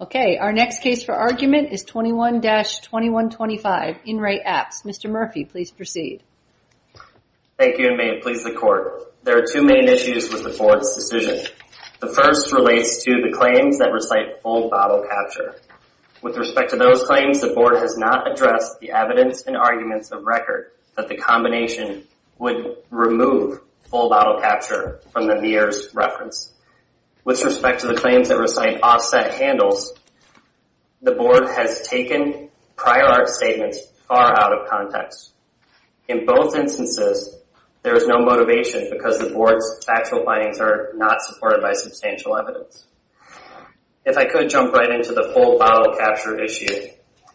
Okay, our next case for argument is 21-2125, In Re Apps. Mr. Murphy, please proceed. Thank you, and may it please the Court, there are two main issues with the Board's decision. The first relates to the claims that recite full bottle capture. With respect to those claims, the Board has not addressed the evidence and arguments of record that the combination would remove full bottle capture from the MIRS reference. With respect to the claims that recite offset handles, the Board has taken prior art statements far out of context. In both instances, there is no motivation because the Board's factual findings are not supported by substantial evidence. If I could jump right into the full bottle capture issue,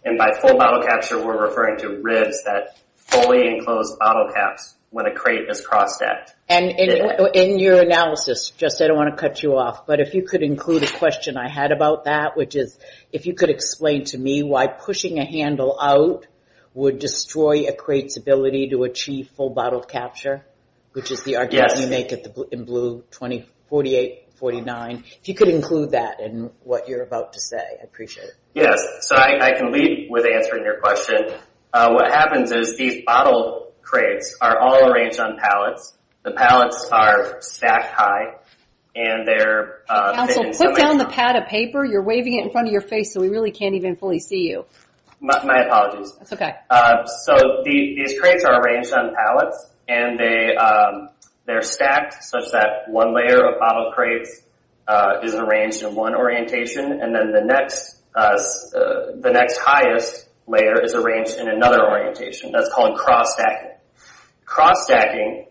and by full bottle capture, we're referring to ribs that fully enclose bottle caps when a crate is crossed at. And in your analysis, Justin, I don't want to cut you off, but if you could include a question I had about that, which is, if you could explain to me why pushing a handle out would destroy a crate's ability to achieve full bottle capture, which is the argument you make in blue, 48-49. If you could include that in what you're about to say, I'd appreciate it. Yes, so I can lead with answering your question. What happens is these bottle crates are all arranged on pallets. The pallets are stacked high, and they're— Counsel, put down the pad of paper. You're waving it in front of your face, so we really can't even fully see you. My apologies. That's okay. So these crates are arranged on pallets, and they're stacked such that one layer of bottle crates is arranged in one orientation, and then the next highest layer is arranged in another orientation. That's called cross-stacking. Cross-stacking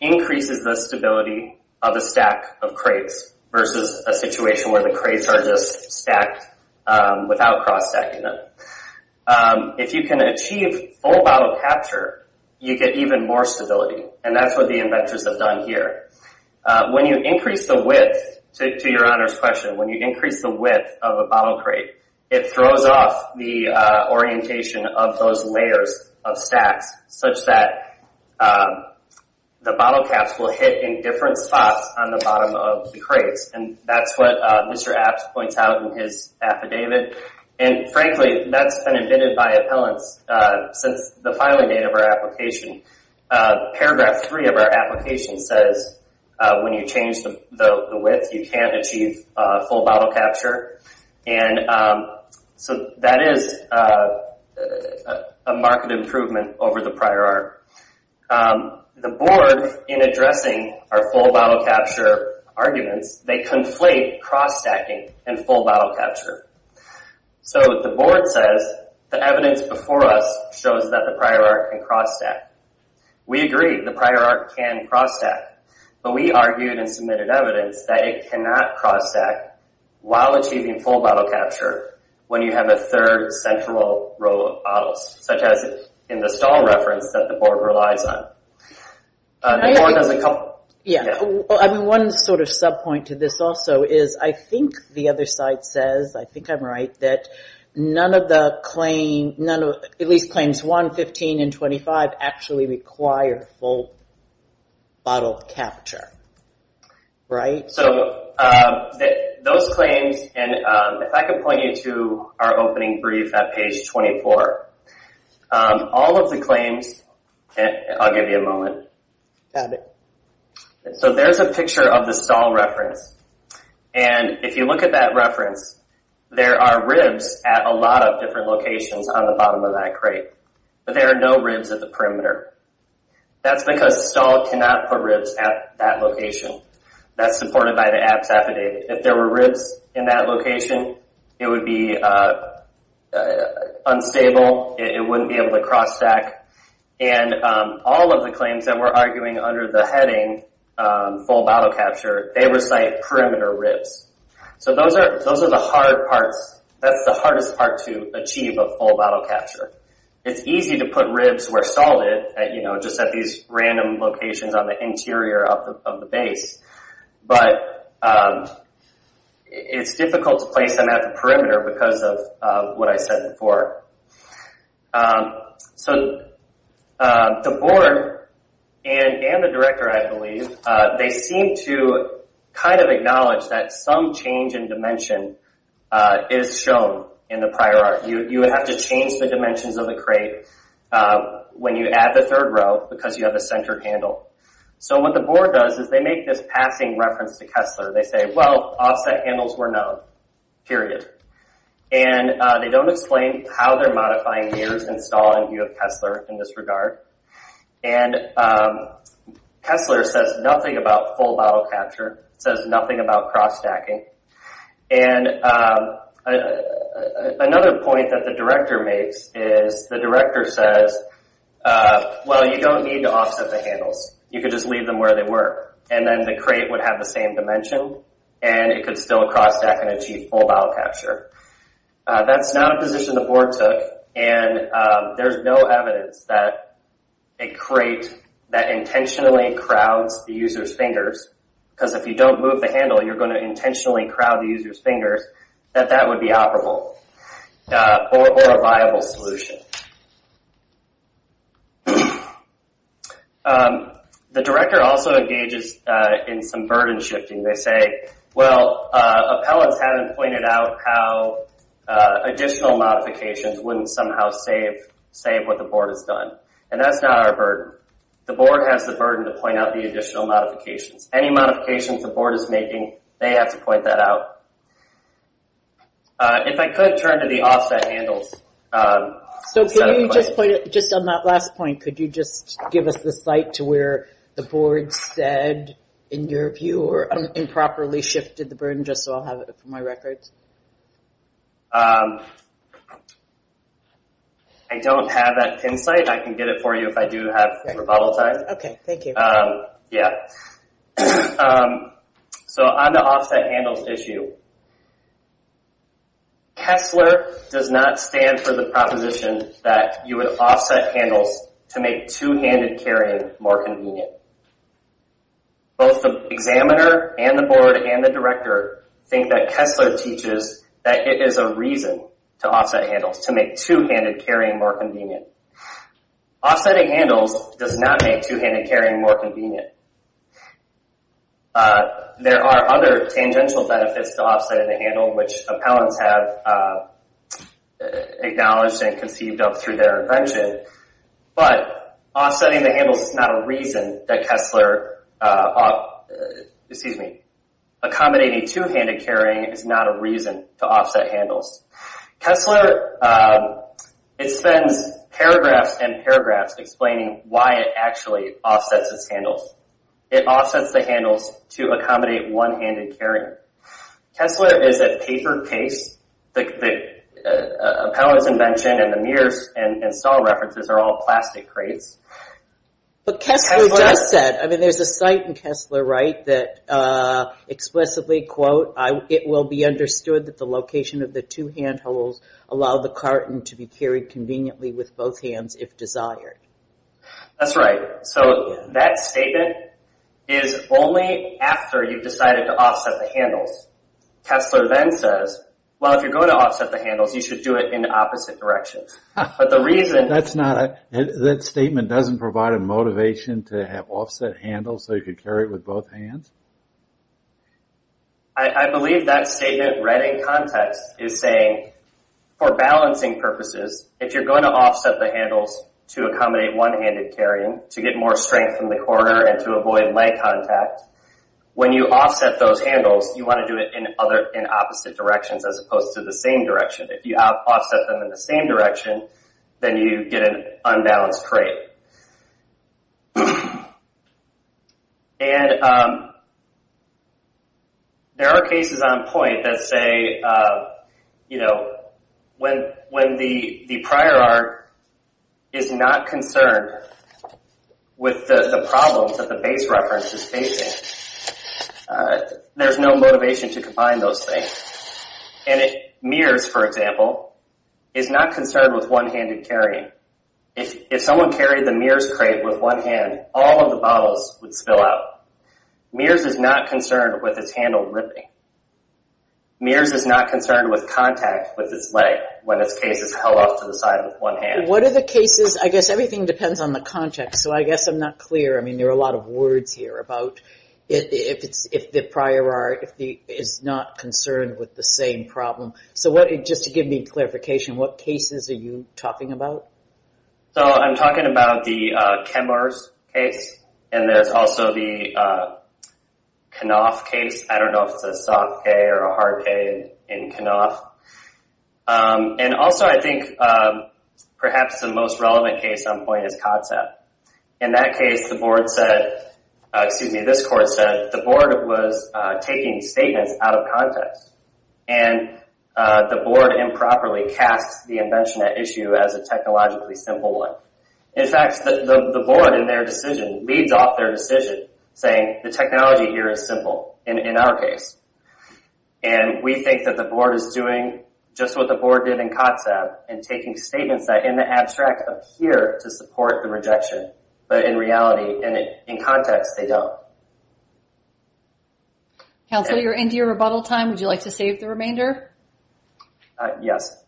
increases the stability of a stack of crates versus a situation where the crates are just stacked without cross-stacking them. If you can achieve full bottle capture, you get even more stability, and that's what the inventors have done here. When you increase the width, to your Honor's question, when you increase the width of a bottle crate, it throws off the orientation of those layers of stacks such that the bottle caps will hit in different spots on the bottom of the crates, and that's what Mr. Apps points out in his affidavit. Frankly, that's been admitted by appellants since the filing date of our application. Paragraph 3 of our application says when you change the width, you can't achieve full bottle capture, and so that is a marked improvement over the prior art. The board, in addressing our full bottle capture arguments, they conflate cross-stacking and full bottle capture. The board says the evidence before us shows that the prior art can cross-stack. We agree the prior art can cross-stack, but we argued in submitted evidence that it cannot cross-stack while achieving full bottle capture when you have a third central row of bottles, such as in the stall reference that the board relies on. Yeah, one sort of sub-point to this also is I think the other side says, I think I'm right, that none of the claims, at least claims 1, 15, and 25, actually require full bottle capture, right? So those claims, and if I could point you to our opening brief at page 24, all of the claims, I'll give you a moment. Got it. So there's a picture of the stall reference, and if you look at that reference, there are ribs at a lot of different locations on the bottom of that crate, but there are no ribs at the perimeter. That's because the stall cannot put ribs at that location. That's supported by the apps affidavit. If there were ribs in that location, it would be unstable. It wouldn't be able to cross-stack. And all of the claims that we're arguing under the heading full bottle capture, they recite perimeter ribs. So those are the hard parts. That's the hardest part to achieve of full bottle capture. It's easy to put ribs where stalled at, you know, just at these random locations on the interior of the base, but it's difficult to place them at the perimeter because of what I said before. So the board and the director, I believe, they seem to kind of acknowledge that some change in dimension is shown in the prior art. You would have to change the dimensions of the crate when you add the third row because you have a centered handle. So what the board does is they make this passing reference to Kessler. They say, well, offset handles were known, period. And they don't explain how they're modifying mirrors installed in view of Kessler in this regard. And Kessler says nothing about full bottle capture. It says nothing about cross-stacking. And another point that the director makes is the director says, well, you don't need to offset the handles. You could just leave them where they were. And then the crate would have the same dimension, and it could still cross-stack and achieve full bottle capture. That's not a position the board took, and there's no evidence that a crate that intentionally crowds the user's fingers, because if you don't move the handle, you're going to intentionally crowd the user's fingers, that that would be operable or a viable solution. The director also engages in some burden shifting. They say, well, appellants haven't pointed out how additional modifications wouldn't somehow save what the board has done. And that's not our burden. The board has the burden to point out the additional modifications. Any modifications the board is making, they have to point that out. If I could turn to the offset handles. So just on that last point, could you just give us the site to where the board said, in your view, or improperly shifted the burden, just so I'll have it for my records? I don't have that pin site. I can get it for you if I do have rebuttal time. Okay. Thank you. Yeah. So on the offset handles issue, Kessler does not stand for the proposition that you would offset handles to make two-handed carrying more convenient. Both the examiner and the board and the director think that Kessler teaches that it is a reason to offset handles, to make two-handed carrying more convenient. Offsetting handles does not make two-handed carrying more convenient. There are other tangential benefits to offsetting the handle, which appellants have acknowledged and conceived of through their invention. But offsetting the handles is not a reason that Kessler – excuse me. Accommodating two-handed carrying is not a reason to offset handles. Kessler – it spends paragraphs and paragraphs explaining why it actually offsets its handles. It offsets the handles to accommodate one-handed carrying. Kessler is a paper case. The appellant's invention and the mirror's and saw references are all plastic crates. But Kessler does say – I mean, there's a site in Kessler, right, that explicitly, quote, it will be understood that the location of the two hand holes allow the carton to be carried conveniently with both hands if desired. That's right. So that statement is only after you've decided to offset the handles. Kessler then says, well, if you're going to offset the handles, you should do it in opposite directions. But the reason – That's not – that statement doesn't provide a motivation to have offset handles so you could carry it with both hands? I believe that statement, read in context, is saying for balancing purposes, if you're going to offset the handles to accommodate one-handed carrying to get more strength in the corner and to avoid leg contact, when you offset those handles, you want to do it in opposite directions as opposed to the same direction. If you offset them in the same direction, then you get an unbalanced crate. And there are cases on point that say, you know, when the prior art is not concerned with the problems that the base reference is facing, there's no motivation to combine those things. And it – mirrors, for example, is not concerned with one-handed carrying. If someone carried the mirrors crate with one hand, all of the bottles would spill out. Mirrors is not concerned with its handle ripping. Mirrors is not concerned with contact with its leg when its case is held off to the side with one hand. What are the cases – I guess everything depends on the context, so I guess I'm not clear. I mean, there are a lot of words here about if the prior art is not concerned with the same problem. So what – just to give me clarification, what cases are you talking about? So I'm talking about the Kemmers case, and there's also the Knopf case. I don't know if it's a soft pay or a hard pay in Knopf. And also I think perhaps the most relevant case on point is Kotzeb. In that case, the board said – excuse me, this court said the board was taking statements out of context. And the board improperly casts the invention at issue as a technologically simple one. In fact, the board in their decision leads off their decision saying the technology here is simple in our case. And we think that the board is doing just what the board did in Kotzeb and taking statements that in the abstract appear to support the rejection. But in reality, in context, they don't. Counsel, you're into your rebuttal time. Would you like to save the remainder? Yes.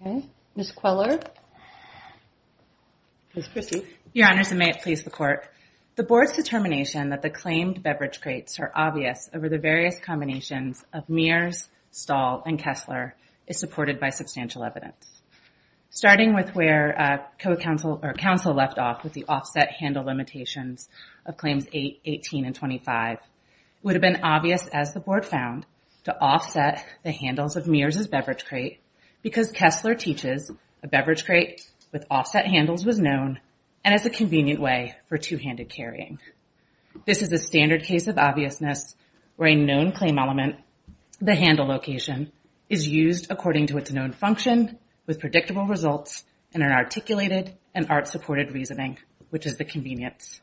Okay. Ms. Queller. Ms. Christie. Your Honors, and may it please the court. The board's determination that the claimed beverage crates are obvious over the various combinations of Mears, Stahl, and Kessler is supported by substantial evidence. Starting with where counsel left off with the offset handle limitations of Claims 8, 18, and 25, it would have been obvious as the board found to offset the handles of Mears' beverage crate because Kessler teaches a beverage crate with offset handles was known and is a convenient way for two-handed carrying. This is a standard case of obviousness where a known claim element, the handle location, is used according to its known function with predictable results in an articulated and art-supported reasoning, which is the convenience.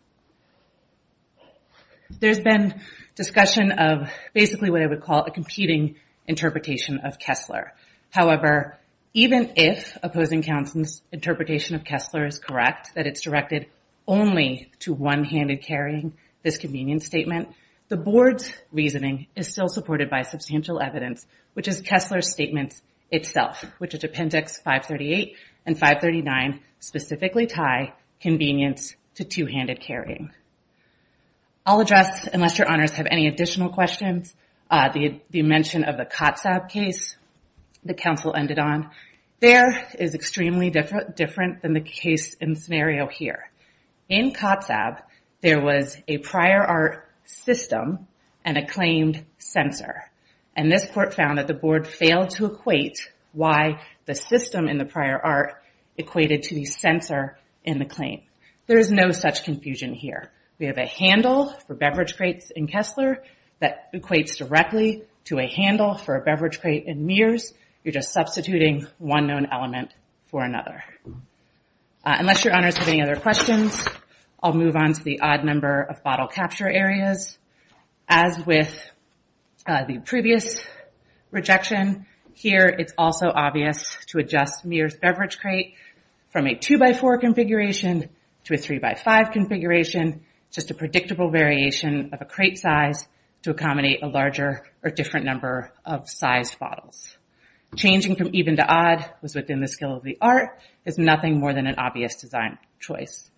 There's been discussion of basically what I would call a competing interpretation of Kessler. However, even if opposing counsel's interpretation of Kessler is correct, that it's directed only to one-handed carrying, this convenience statement, the board's reasoning is still supported by substantial evidence, which is Kessler's statement itself, which is Appendix 538 and 539, specifically tie convenience to two-handed carrying. I'll address, unless Your Honors have any additional questions, the mention of the COTSAB case the counsel ended on. There is extremely different than the case and scenario here. In COTSAB, there was a prior art system and a claimed censor, and this court found that the board failed to equate why the system in the prior art equated to the censor in the claim. There is no such confusion here. We have a handle for beverage crates in Kessler that equates directly to a handle for a beverage crate in Mears. You're just substituting one known element for another. Unless Your Honors have any other questions, I'll move on to the odd number of bottle capture areas. As with the previous rejection, here it's also obvious to adjust Mears beverage crate from a 2x4 configuration to a 3x5 configuration, just a predictable variation of a crate size to accommodate a larger or different number of sized bottles. Changing from even to odd was within the skill of the art. It's nothing more than an obvious design choice.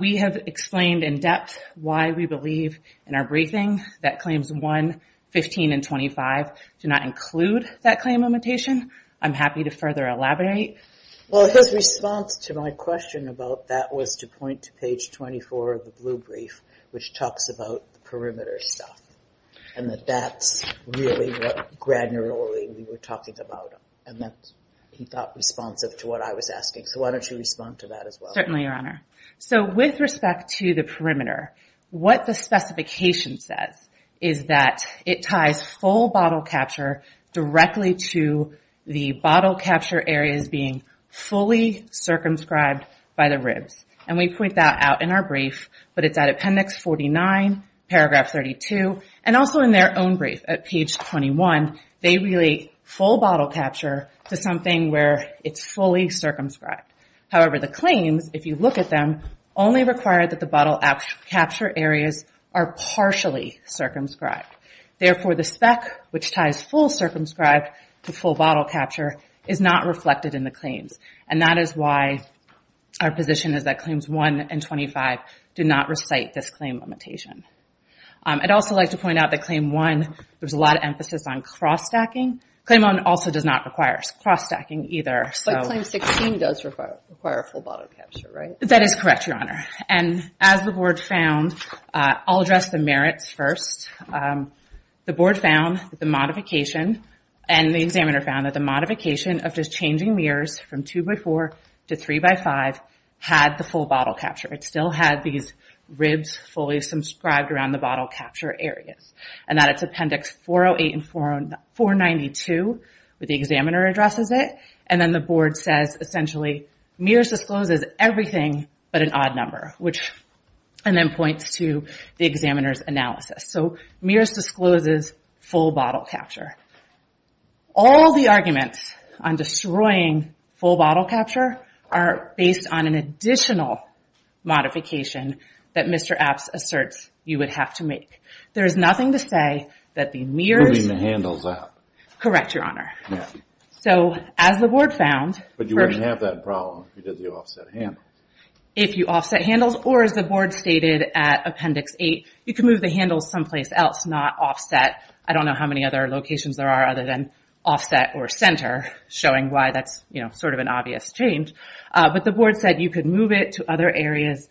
We have explained in depth why we believe in our briefing that claims 1, 15, and 25 do not include that claim limitation. I'm happy to further elaborate. Well, his response to my question about that was to point to page 24 of the blue brief, which talks about the perimeter stuff, and that that's really what granularly we were talking about, and that he thought responsive to what I was asking. So why don't you respond to that as well? Certainly, Your Honor. So with respect to the perimeter, what the specification says is that it ties full bottle capture directly to the bottle capture areas being fully circumscribed by the ribs. We point that out in our brief, but it's at appendix 49, paragraph 32, and also in their own brief at page 21. They relate full bottle capture to something where it's fully circumscribed. However, the claims, if you look at them, only require that the bottle capture areas are partially circumscribed. Therefore, the spec, which ties full circumscribed to full bottle capture, is not reflected in the claims. And that is why our position is that claims 1 and 25 do not recite this claim limitation. I'd also like to point out that claim 1, there's a lot of emphasis on cross-stacking. Claim 1 also does not require cross-stacking either. But claim 16 does require full bottle capture, right? That is correct, Your Honor. And as the board found, I'll address the merits first. The board found that the modification, and the examiner found that the modification of just changing mirrors from 2x4 to 3x5 had the full bottle capture. It still had these ribs fully circumscribed around the bottle capture areas. And that's appendix 408 and 492, where the examiner addresses it. And then the board says, essentially, mirrors discloses everything but an odd number. Which then points to the examiner's analysis. So, mirrors discloses full bottle capture. All the arguments on destroying full bottle capture are based on an additional modification that Mr. Apps asserts you would have to make. There's nothing to say that the mirrors... Putting the handles up. Correct, Your Honor. So, as the board found... But you wouldn't have that problem if you did the offset handles. Or, as the board stated at appendix 8, you could move the handles someplace else. Not offset. I don't know how many other locations there are other than offset or center. Showing why that's sort of an obvious change. But the board said you could move it to other areas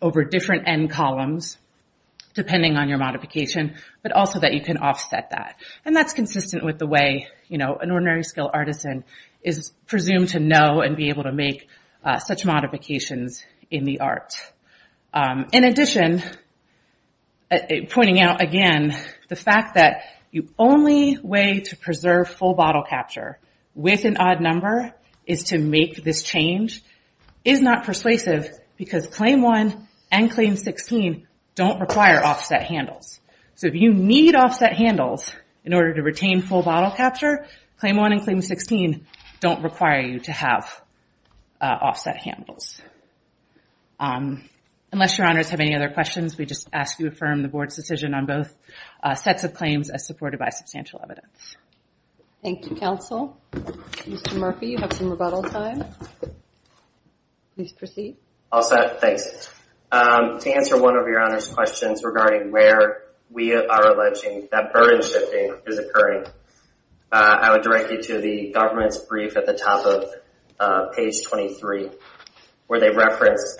over different end columns. Depending on your modification. But also that you can offset that. And that's consistent with the way an ordinary skilled artisan is presumed to know and be able to make such modifications in the art. In addition, pointing out again, the fact that the only way to preserve full bottle capture with an odd number is to make this change is not persuasive. Because Claim 1 and Claim 16 don't require offset handles. So, if you need offset handles in order to retain full bottle capture, Claim 1 and Claim 16 don't require you to have offset handles. Unless Your Honors have any other questions, we just ask you to affirm the board's decision on both sets of claims as supported by substantial evidence. Thank you, counsel. Mr. Murphy, you have some rebuttal time. Please proceed. All set, thanks. To answer one of Your Honors' questions regarding where we are alleging that burden shifting is occurring, I would direct you to the government's brief at the top of page 23, where they reference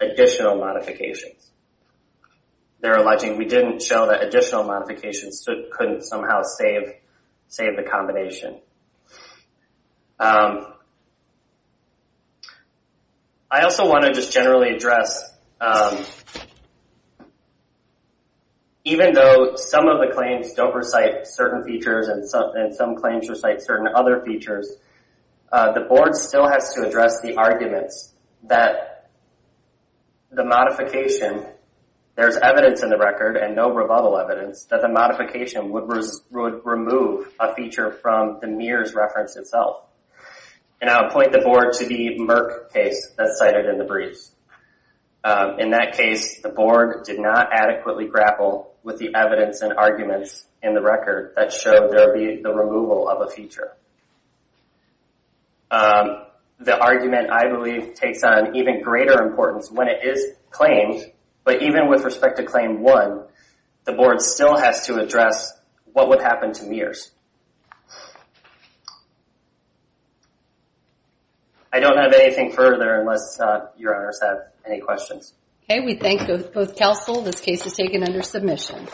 additional modifications. They're alleging we didn't show that additional modifications so it couldn't somehow save the combination. I also want to just generally address, even though some of the claims don't recite certain features and some claims recite certain other features, the board still has to address the arguments that the modification, there's evidence in the record and no rebuttal evidence, that the modification would remove a feature from the mirror's reference itself. And I'll point the board to the Merck case that's cited in the briefs. In that case, the board did not adequately grapple with the evidence and arguments in the record that showed there would be the removal of a feature. The argument, I believe, takes on even greater importance when it is claimed, but even with respect to Claim 1, the board still has to address what would happen to mirrors. I don't have anything further unless Your Honors have any questions. Okay, we thank both counsel. This case is taken under submission.